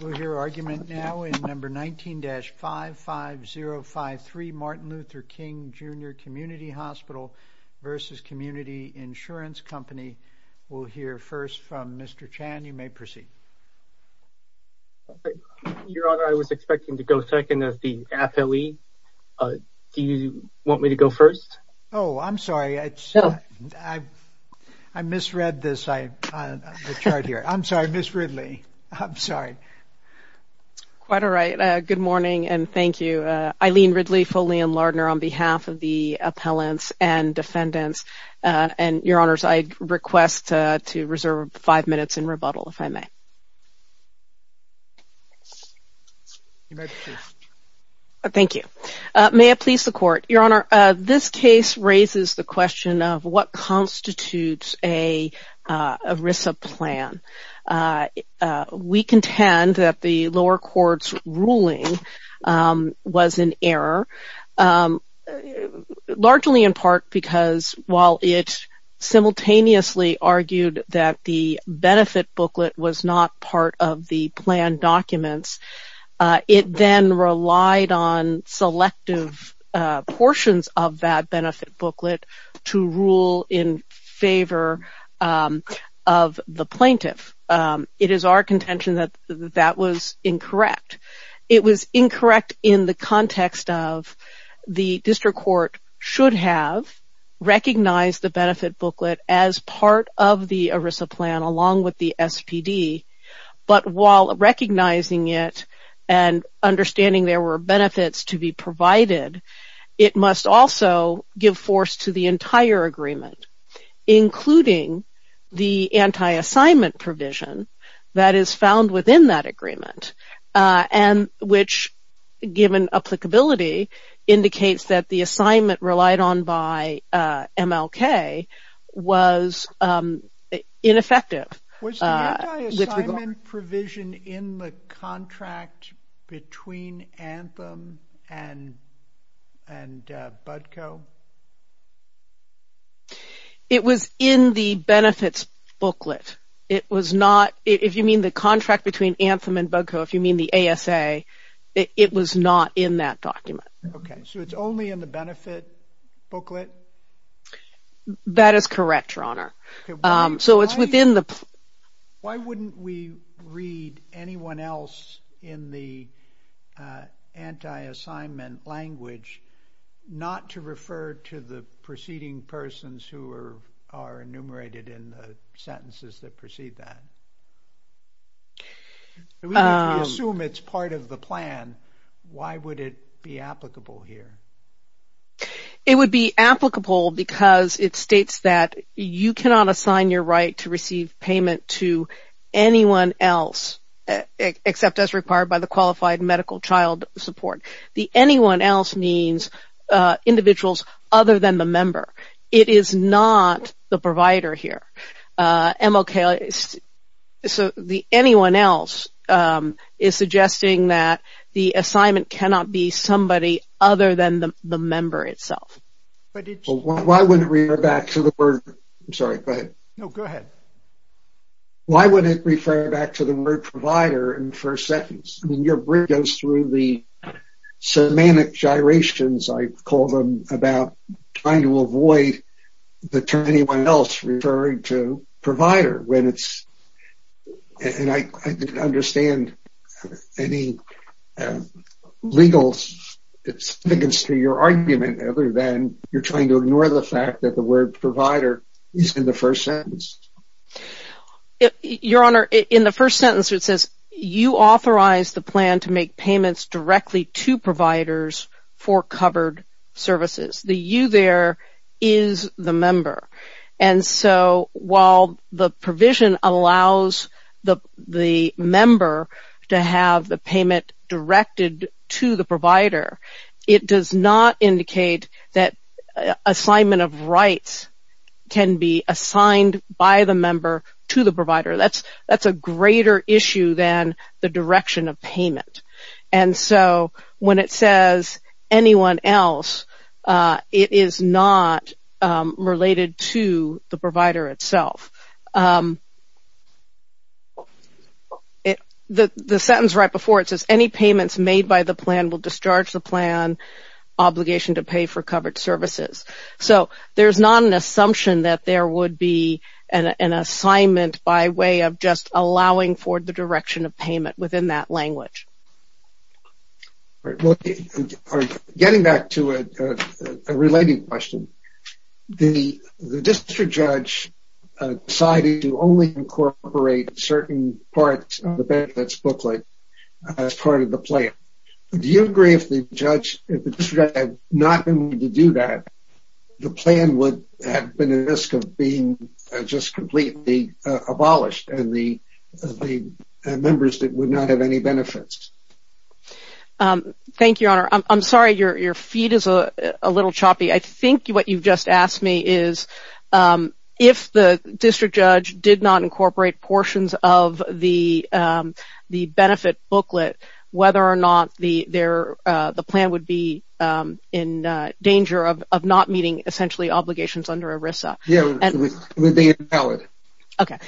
We'll hear argument now in No. 19-55053, Martin Luther King, Jr. Community Hospital v. Community Insurance Company. We'll hear first from Mr. Chan. You may proceed. Your Honor, I was expecting to go second as the affilee. Do you want me to go first? Oh, I'm sorry. I misread the chart here. I'm sorry, Ms. Ridley. I'm sorry. Quite all right. Good morning and thank you. Eileen Ridley, Foley & Lardner on behalf of the appellants and defendants. Your Honors, I request to reserve five minutes in rebuttal, if I may. You may proceed. Thank you. May it please the Court? Your Honor, this case raises the question of what constitutes an ERISA plan. We contend that the lower court's ruling was in error, largely in part because while it simultaneously argued that the benefit booklet was not part of the plan documents, it then relied on selective portions of that benefit booklet to rule in favor of the plaintiff. It is our contention that that was incorrect. It was incorrect in the context of the district court should have recognized the benefit booklet as part of the ERISA plan along with the SPD, but while recognizing it and understanding there were benefits to be provided, it must also give force to the entire agreement, including the anti-assignment provision that is found within that agreement, which, given applicability, indicates that the assignment relied on by MLK was ineffective. Was the anti-assignment provision in the contract between Anthem and Budco? It was in the benefits booklet. If you mean the contract between Anthem and Budco, if you mean the ASA, it was not in that document. Okay, so it's only in the benefit booklet? That is correct, Your Honor. Why wouldn't we read anyone else in the anti-assignment language not to refer to the preceding persons who are enumerated in the sentences that precede that? If we assume it's part of the plan, why would it be applicable here? It would be applicable because it states that you cannot assign your right to receive payment to anyone else, except as required by the qualified medical child support. The anyone else means individuals other than the member. It is not the provider here. So, the anyone else is suggesting that the assignment cannot be somebody other than the member itself. Why would it refer back to the word provider in the first sentence? Your brief goes through the semantic gyrations, I call them, about trying to avoid the term anyone else referring to provider. I don't understand any legal significance to your argument other than you're trying to ignore the fact that the word provider is in the first sentence. Your Honor, in the first sentence it says, you authorize the plan to make payments directly to providers for covered services. The you there is the member. And so, while the provision allows the member to have the payment directed to the provider, it does not indicate that assignment of rights can be assigned by the member to the provider. That's a greater issue than the direction of payment. And so, when it says anyone else, it is not related to the provider itself. The sentence right before it says, any payments made by the plan will discharge the plan obligation to pay for covered services. So, there's not an assumption that there would be an assignment by way of just allowing for the direction of payment within that language. Getting back to a related question, the district judge decided to only incorporate certain parts of the benefits booklet as part of the plan. Do you agree if the district judge had not been willing to do that, the plan would have been at risk of being just completely abolished and the members would not have any benefits? Thank you, Your Honor. I'm sorry, your feed is a little choppy. I think what you've just asked me is, if the district judge did not incorporate portions of the benefit booklet, whether or not the plan would be in danger of not meeting, essentially, obligations under ERISA. Yeah, it would be invalid. Okay.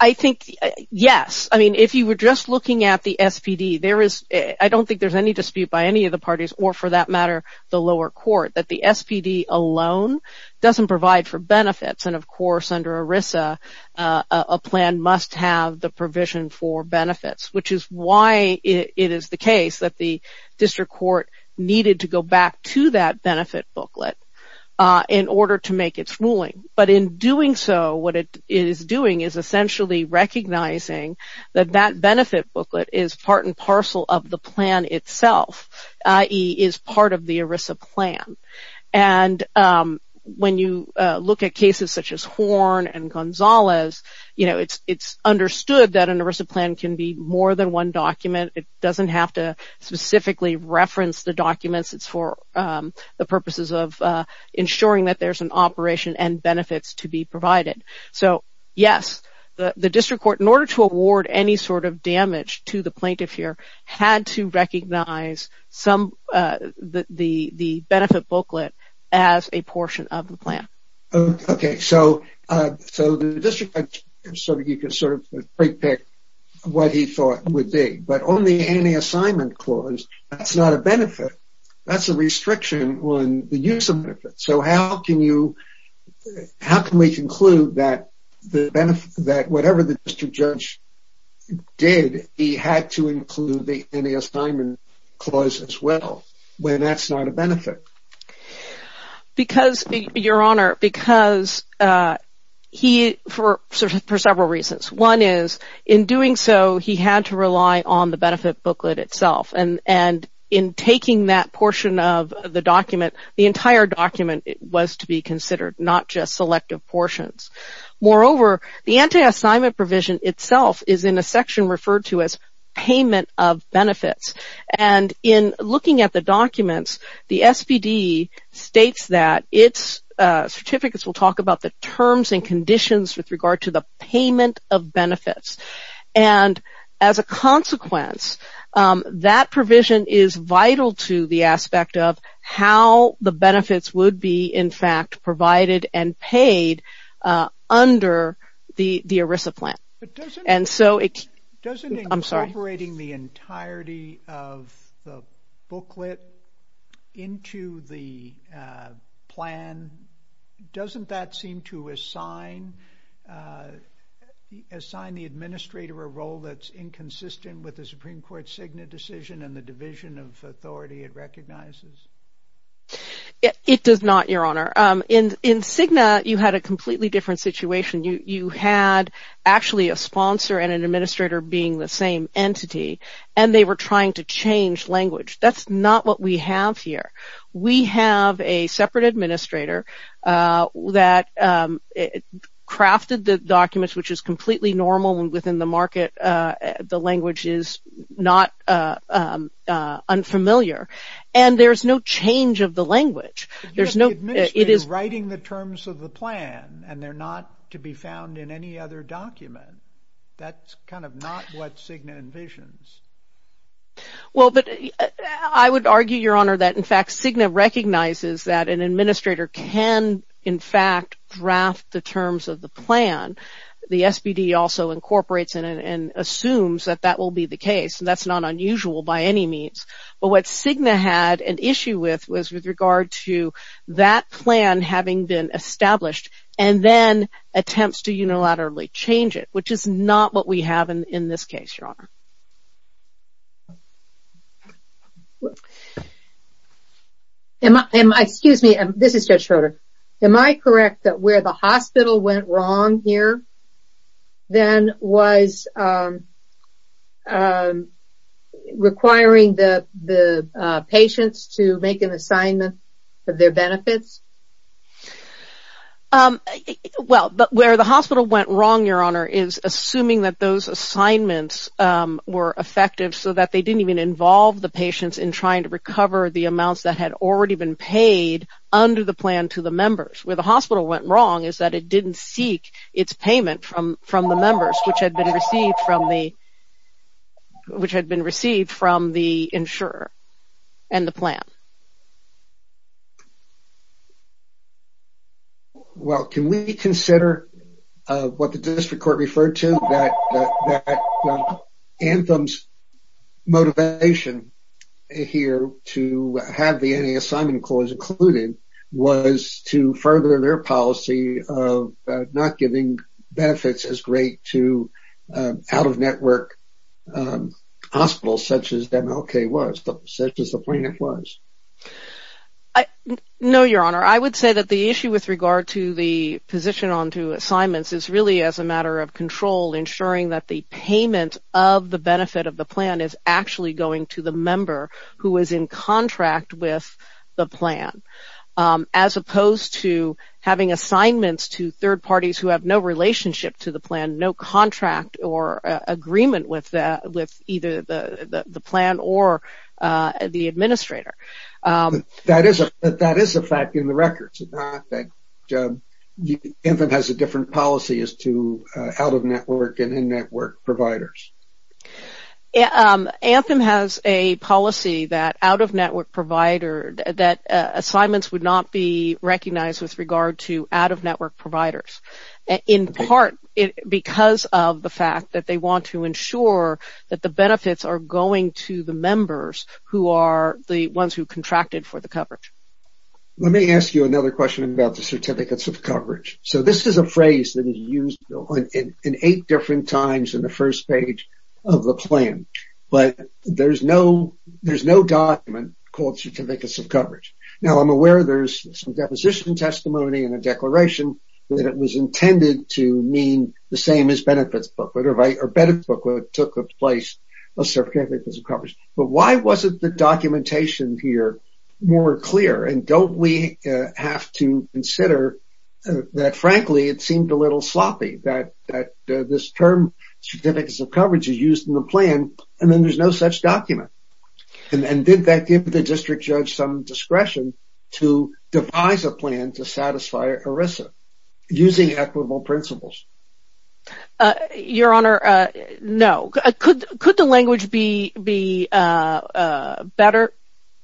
I think, yes. I mean, if you were just looking at the SPD, I don't think there's any dispute by any of the parties or, for that matter, the lower court, that the SPD alone doesn't provide for benefits. And, of course, under ERISA, a plan must have the provision for benefits, which is why it is the case that the district court needed to go back to that benefit booklet in order to make its ruling. But in doing so, what it is doing is essentially recognizing that that benefit booklet is part and parcel of the plan itself, i.e., is part of the ERISA plan. And when you look at cases such as Horn and Gonzalez, it's understood that an ERISA plan can be more than one document. It doesn't have to specifically reference the documents. It's for the purposes of ensuring that there's an operation and benefits to be provided. So, yes, the district court, in order to award any sort of damage to the plaintiff here, had to recognize the benefit booklet as a portion of the plan. Okay. So, the district court, you can sort of pre-pick what he thought it would be. But on the anti-assignment clause, that's not a benefit. That's a restriction on the use of benefits. So, how can we conclude that whatever the district judge did, he had to include the anti-assignment clause as well, when that's not a benefit? Because, Your Honor, because he, for several reasons. One is, in doing so, he had to rely on the benefit booklet itself. And in taking that portion of the document, the entire document was to be considered, not just selective portions. Moreover, the anti-assignment provision itself is in a section referred to as payment of benefits. And in looking at the documents, the SBD states that its certificates will talk about the terms and conditions with regard to the payment of benefits. And as a consequence, that provision is vital to the aspect of how the benefits would be, in fact, provided and paid under the ERISA plan. I'm sorry. Doesn't incorporating the entirety of the booklet into the plan, doesn't that seem to assign the administrator a role that's inconsistent with the Supreme Court Cigna decision and the division of authority it recognizes? It does not, Your Honor. In Cigna, you had a completely different situation. You had actually a sponsor and an administrator being the same entity, and they were trying to change language. That's not what we have here. We have a separate administrator that crafted the documents, which is completely normal and within the market the language is not unfamiliar. And there's no change of the language. You have the administrator writing the terms of the plan, and they're not to be found in any other document. That's kind of not what Cigna envisions. Well, but I would argue, Your Honor, that in fact Cigna recognizes that an administrator can, in fact, draft the terms of the plan. The SBD also incorporates and assumes that that will be the case. That's not unusual by any means. But what Cigna had an issue with was with regard to that plan having been established and then attempts to unilaterally change it, which is not what we have in this case, Your Honor. Excuse me. This is Judge Schroeder. Am I correct that where the hospital went wrong here then was requiring the patients to make an assignment of their benefits? Well, where the hospital went wrong, Your Honor, is assuming that those assignments were effective so that they didn't even involve the patients in trying to recover the amounts that had already been paid under the plan to the members. Where the hospital went wrong is that it didn't seek its payment from the members, which had been received from the insurer and the plan. Well, can we consider what the district court referred to, that Anthem's motivation here to have the assignment clause included was to further their policy of not giving benefits as great to out-of-network hospitals such as MLK was, such as the plan was? No, Your Honor. I would say that the issue with regard to the position on two assignments is really as a matter of control, ensuring that the payment of the benefit of the plan is actually going to the member who is in contract with the plan, as opposed to having assignments to third parties who have no relationship to the plan, no contract or agreement with either the plan or the administrator. That is a fact in the records. Anthem has a different policy as to out-of-network and in-network providers. Anthem has a policy that assignments would not be recognized with regard to out-of-network providers, in part because of the fact that they want to ensure that the benefits are going to the members who are the ones who contracted for the coverage. Let me ask you another question about the certificates of coverage. This is a phrase that is used in eight different times in the first page of the plan, Now, I'm aware there's some deposition testimony and a declaration that it was intended to mean the same as benefits booklet, or benefits booklet took the place of certificates of coverage. But why wasn't the documentation here more clear? And don't we have to consider that, frankly, it seemed a little sloppy, that this term, certificates of coverage, is used in the plan, and then there's no such document. And did that give the district judge some discretion to devise a plan to satisfy ERISA, using equitable principles? Your Honor, no. Could the language be better?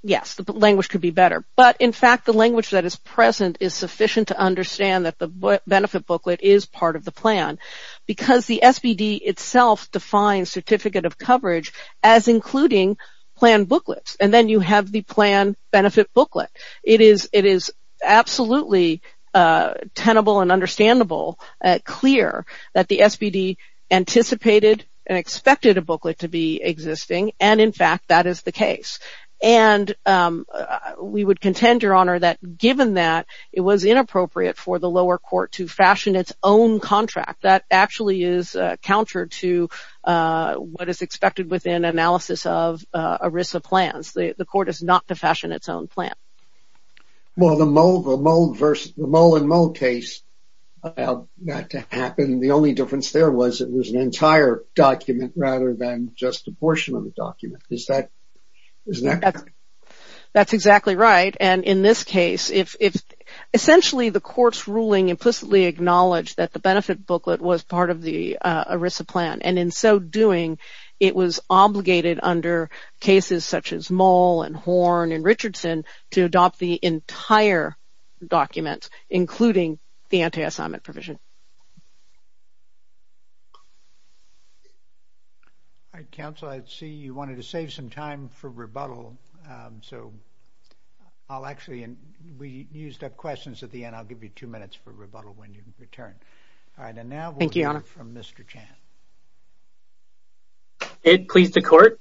Yes, the language could be better. But, in fact, the language that is present is sufficient to understand that the benefit booklet is part of the plan, because the SBD itself defines certificate of coverage as including plan booklets. And then you have the plan benefit booklet. It is absolutely tenable and understandable, clear, that the SBD anticipated and expected a booklet to be existing, and, in fact, that is the case. And we would contend, Your Honor, that given that, it was inappropriate for the lower court to fashion its own contract. That actually is counter to what is expected within analysis of ERISA plans. The court is not to fashion its own plan. Well, the mole and mole case, that happened, the only difference there was it was an entire document rather than just a portion of the document. Isn't that correct? That's exactly right. And in this case, essentially the court's ruling implicitly acknowledged that the benefit booklet was part of the ERISA plan. And in so doing, it was obligated under cases such as mole and horn and Richardson to adopt the entire document, including the anti-assignment provision. Counsel, I see you wanted to save some time for rebuttal. So I'll actually, we used up questions at the end. I'll give you two minutes for rebuttal when you return. Thank you, Your Honor. And now we'll hear from Mr. Chan. It pleased the court.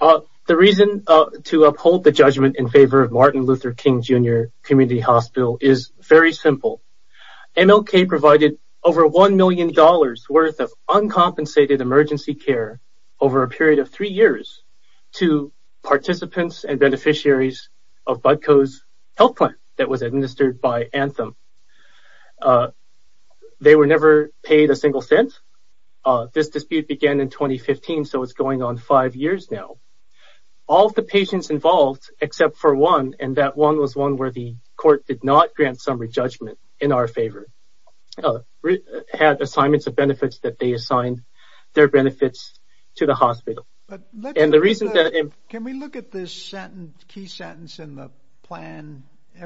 The reason to uphold the judgment in favor of Martin Luther King, Jr. Community Hospital is very simple. MLK provided over $1 million worth of uncompensated emergency care over a period of three years to participants and beneficiaries of Budco's health plan that was administered by Anthem. They were never paid a single cent. This dispute began in 2015, so it's going on five years now. All of the patients involved, except for one, and that one was one where the court did not grant summary judgment in our favor, had assignments of benefits that they assigned their benefits to the hospital. And the reason that... Can we look at this key sentence in the plan?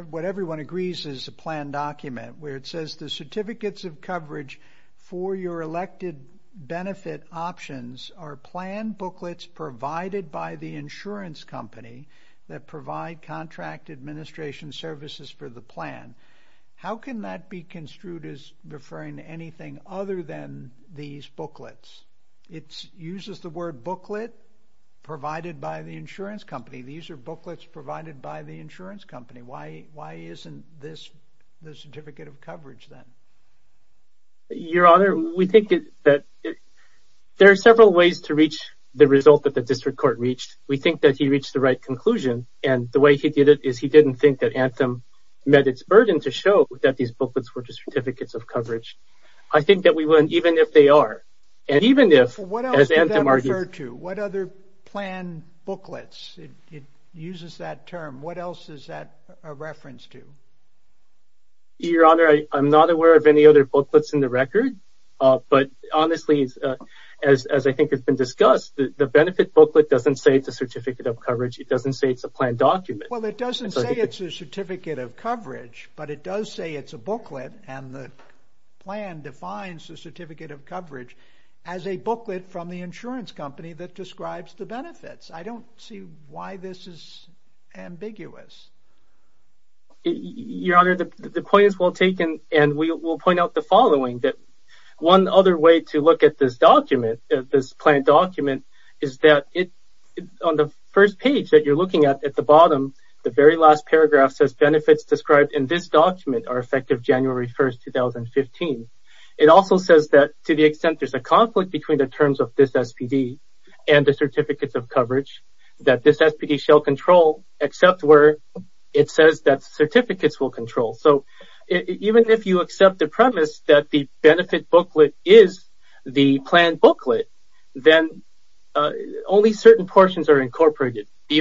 What everyone agrees is a plan document where it says, the certificates of coverage for your elected benefit options are plan booklets provided by the insurance company that provide contract administration services for the plan. How can that be construed as referring to anything other than these booklets? It uses the word booklet provided by the insurance company. These are booklets provided by the insurance company. Why isn't this the certificate of coverage then? Your Honor, we think that there are several ways to reach the result that the district court reached. We think that he reached the right conclusion, and the way he did it is he didn't think that Anthem met its burden to show that these booklets were just certificates of coverage. I think that we wouldn't, even if they are, and even if... What else would that refer to? What other plan booklets? It uses that term. What else is that a reference to? Your Honor, I'm not aware of any other booklets in the record, but honestly, as I think has been discussed, the benefit booklet doesn't say it's a certificate of coverage. It doesn't say it's a plan document. Well, it doesn't say it's a certificate of coverage, but it does say it's a booklet, and the plan defines the certificate of coverage as a booklet from the insurance company that describes the benefits. I don't see why this is ambiguous. Your Honor, the point is well taken, and we will point out the following, that one other way to look at this document, this plan document, is that on the first page that you're looking at, at the bottom, the very last paragraph says benefits described in this document are effective January 1, 2015. It also says that to the extent there's a conflict between the terms of this SPD and the certificates of coverage, that this SPD shall control except where it says that certificates will control. So, even if you accept the premise that the benefit booklet is the plan booklet, then only certain portions are incorporated. The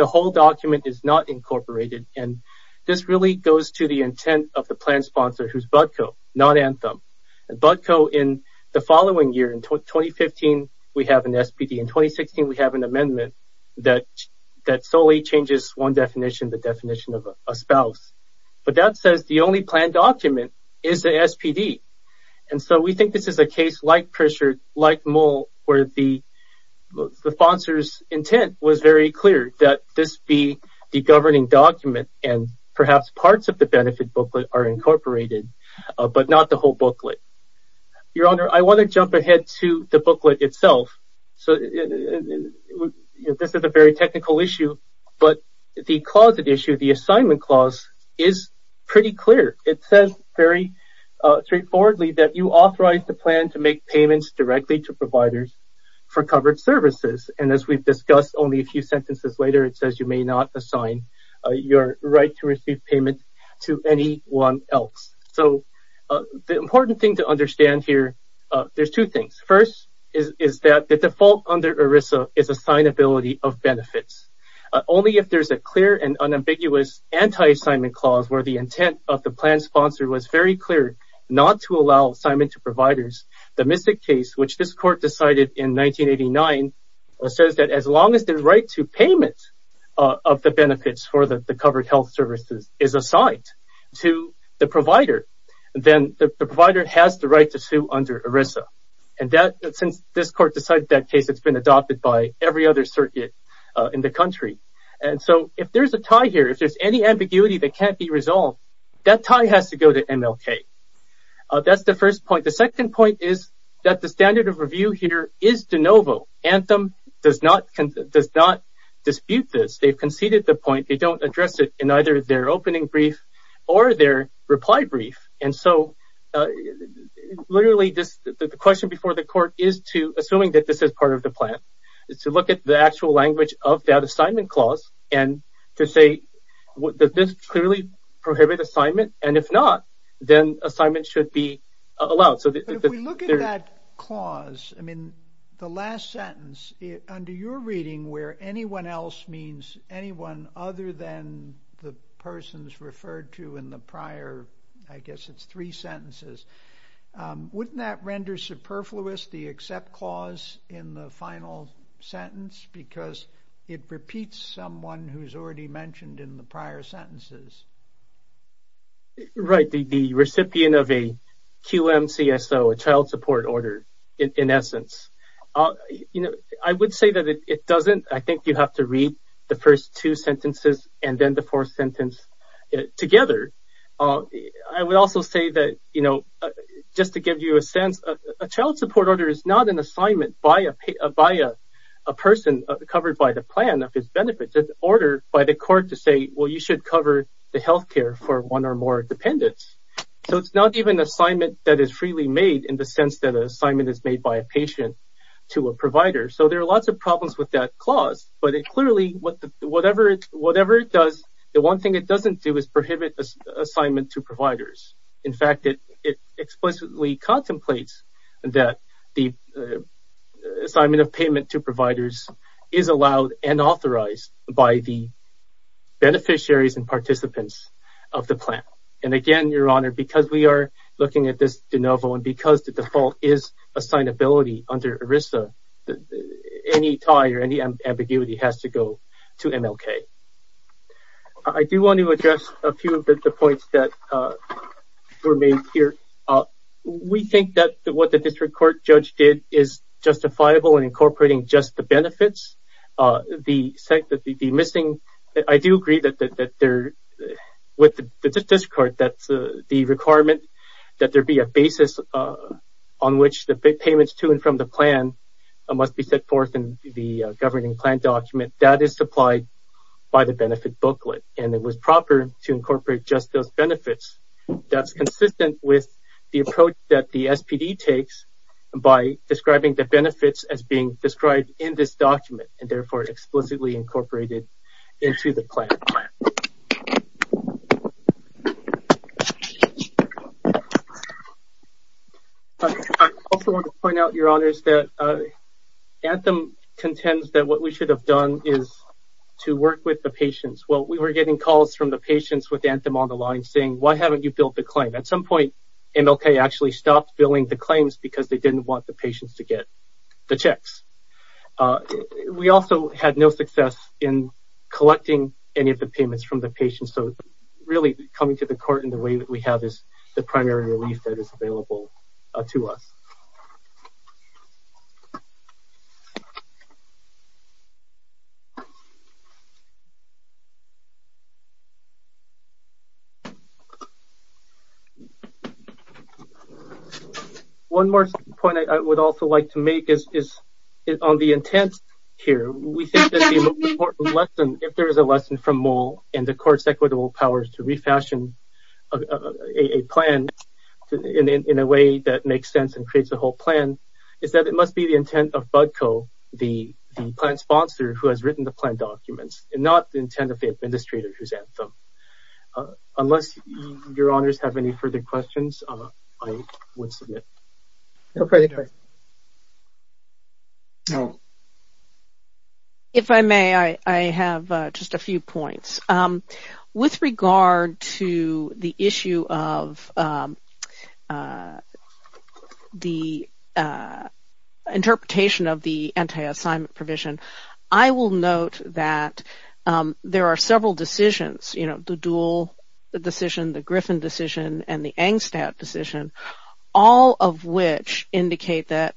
whole document is not incorporated, and this really goes to the intent of the plan sponsor, who's Budco, not Anthem. Budco, in the following year, in 2015, we have an SPD. In 2016, we have an amendment that solely changes one definition, the definition of a spouse. But that says the only plan document is the SPD, and so we think this is a case like Pritchard, like Mull, where the sponsor's intent was very clear, that this be the governing document, and perhaps parts of the benefit booklet are incorporated, but not the whole booklet. Your Honor, I want to jump ahead to the booklet itself. This is a very technical issue, but the clause at issue, the assignment clause, is pretty clear. It says very straightforwardly that you authorize the plan to make payments directly to providers for covered services, and as we've discussed only a few sentences later, it says you may not assign your right to receive payments to anyone else. So, the important thing to understand here, there's two things. First is that the default under ERISA is assignability of benefits. Only if there's a clear and unambiguous anti-assignment clause, where the intent of the plan sponsor was very clear not to allow assignment to providers. The Mystic case, which this Court decided in 1989, says that as long as the right to payment of the benefits for the covered health services is assigned to the provider, then the provider has the right to sue under ERISA. And since this Court decided that case, it's been adopted by every other circuit in the country. And so, if there's a tie here, if there's any ambiguity that can't be resolved, that tie has to go to MLK. That's the first point. The second point is that the standard of review here is de novo. Anthem does not dispute this. They've conceded the point. They don't address it in either their opening brief or their reply brief. And so, literally, the question before the Court is to, assuming that this is part of the plan, is to look at the actual language of that assignment clause and to say, does this clearly prohibit assignment? And if not, then assignment should be allowed. If we look at that clause, I mean, the last sentence, under your reading where anyone else means anyone other than the persons referred to in the prior, I guess it's three sentences, wouldn't that render superfluous the accept clause in the final sentence because it repeats someone who's already mentioned in the prior sentences? Right, the recipient of a QM-CSO, a child support order, in essence. I would say that it doesn't. I think you have to read the first two sentences and then the fourth sentence together. I would also say that, just to give you a sense, a child support order is not an assignment by a person covered by the plan of his benefits. It's an order by the Court to say, well, you should cover the health care for one or more dependents. So, it's not even an assignment that is freely made in the sense that an assignment is made by a patient to a provider. So, there are lots of problems with that clause. But clearly, whatever it does, the one thing it doesn't do is prohibit assignment to providers. In fact, it explicitly contemplates that the assignment of payment to providers is allowed and authorized by the beneficiaries and participants of the plan. And again, Your Honor, because we are looking at this de novo and because the default is assignability under ERISA, any tie or any ambiguity has to go to MLK. I do want to address a few of the points that were made here. We think that what the district court judge did is justifiable in incorporating just the benefits. I do agree with the district court that the requirement that there be a basis on which the payments to and from the plan must be set forth in the governing plan document. That is supplied by the benefit booklet, and it was proper to incorporate just those benefits. That's consistent with the approach that the SPD takes by describing the benefits as being described in this document and therefore explicitly incorporated into the plan. I also want to point out, Your Honors, that Anthem contends that what we should have done is to work with the patients. Well, we were getting calls from the patients with Anthem on the line saying, why haven't you built the claim? At some point, MLK actually stopped billing the claims because they didn't want the patients to get the checks. Really, coming to the court in the way that we have is the primary relief that is available to us. One more point I would also like to make is on the intent here. We think that the most important lesson, if there is a lesson from Moll, and the court's equitable powers to refashion a plan in a way that makes sense and creates a whole plan, is that it must be the intent of Budco, the plan sponsor who has written the plan documents, and not the intent of the administrator who's Anthem. Unless Your Honors have any further questions, I would submit. If I may, I have just a few points. With regard to the issue of the interpretation of the anti-assignment provision, I will note that there are several decisions, you know, the Duhl decision, the Griffin decision, and the Engstadt decision, all of which indicate that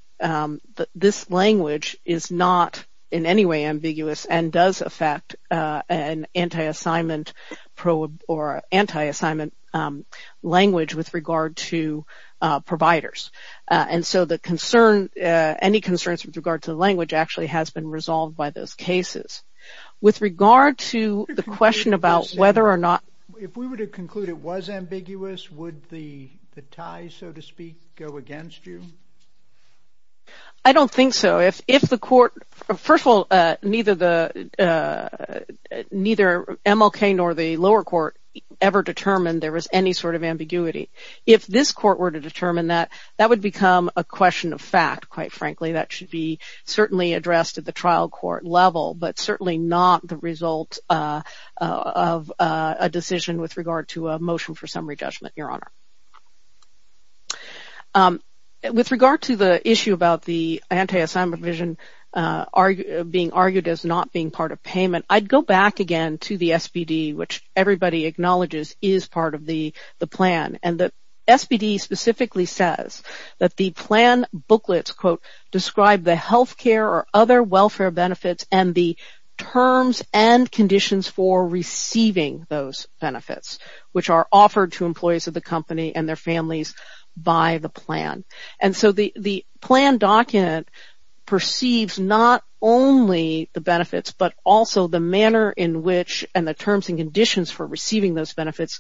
this language is not in any way ambiguous and does affect an anti-assignment language with regard to providers. And so any concerns with regard to the language actually has been resolved by those cases. With regard to the question about whether or not... If we were to conclude it was ambiguous, would the tie, so to speak, go against you? I don't think so. First of all, neither MLK nor the lower court ever determined there was any sort of ambiguity. If this court were to determine that, that would become a question of fact, quite frankly. That should be certainly addressed at the trial court level, but certainly not the result of a decision with regard to a motion for summary judgment, Your Honor. With regard to the issue about the anti-assignment provision being argued as not being part of payment, I'd go back again to the SBD, which everybody acknowledges is part of the plan. And the SBD specifically says that the plan booklets, quote, describe the health care or other welfare benefits and the terms and conditions for receiving those benefits, which are offered to employees of the company and their families by the plan. And so the plan document perceives not only the benefits, but also the manner in which and the terms and conditions for receiving those benefits,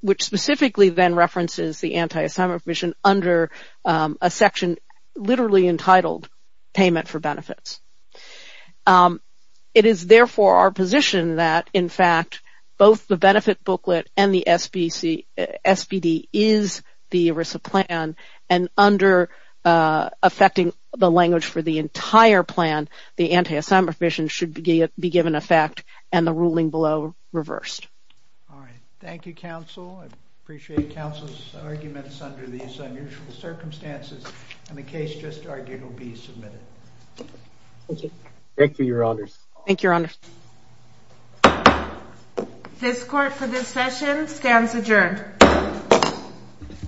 which specifically then references the anti-assignment provision under a section literally entitled Payment for Benefits. It is therefore our position that, in fact, both the benefit booklet and the SBD is the ERISA plan, and under affecting the language for the entire plan, the anti-assignment provision should be given effect and the ruling below reversed. All right. Thank you, counsel. I appreciate counsel's arguments under these unusual circumstances. And the case just argued will be submitted. Thank you. Thank you, Your Honors. Thank you, Your Honors. This court for this session stands adjourned.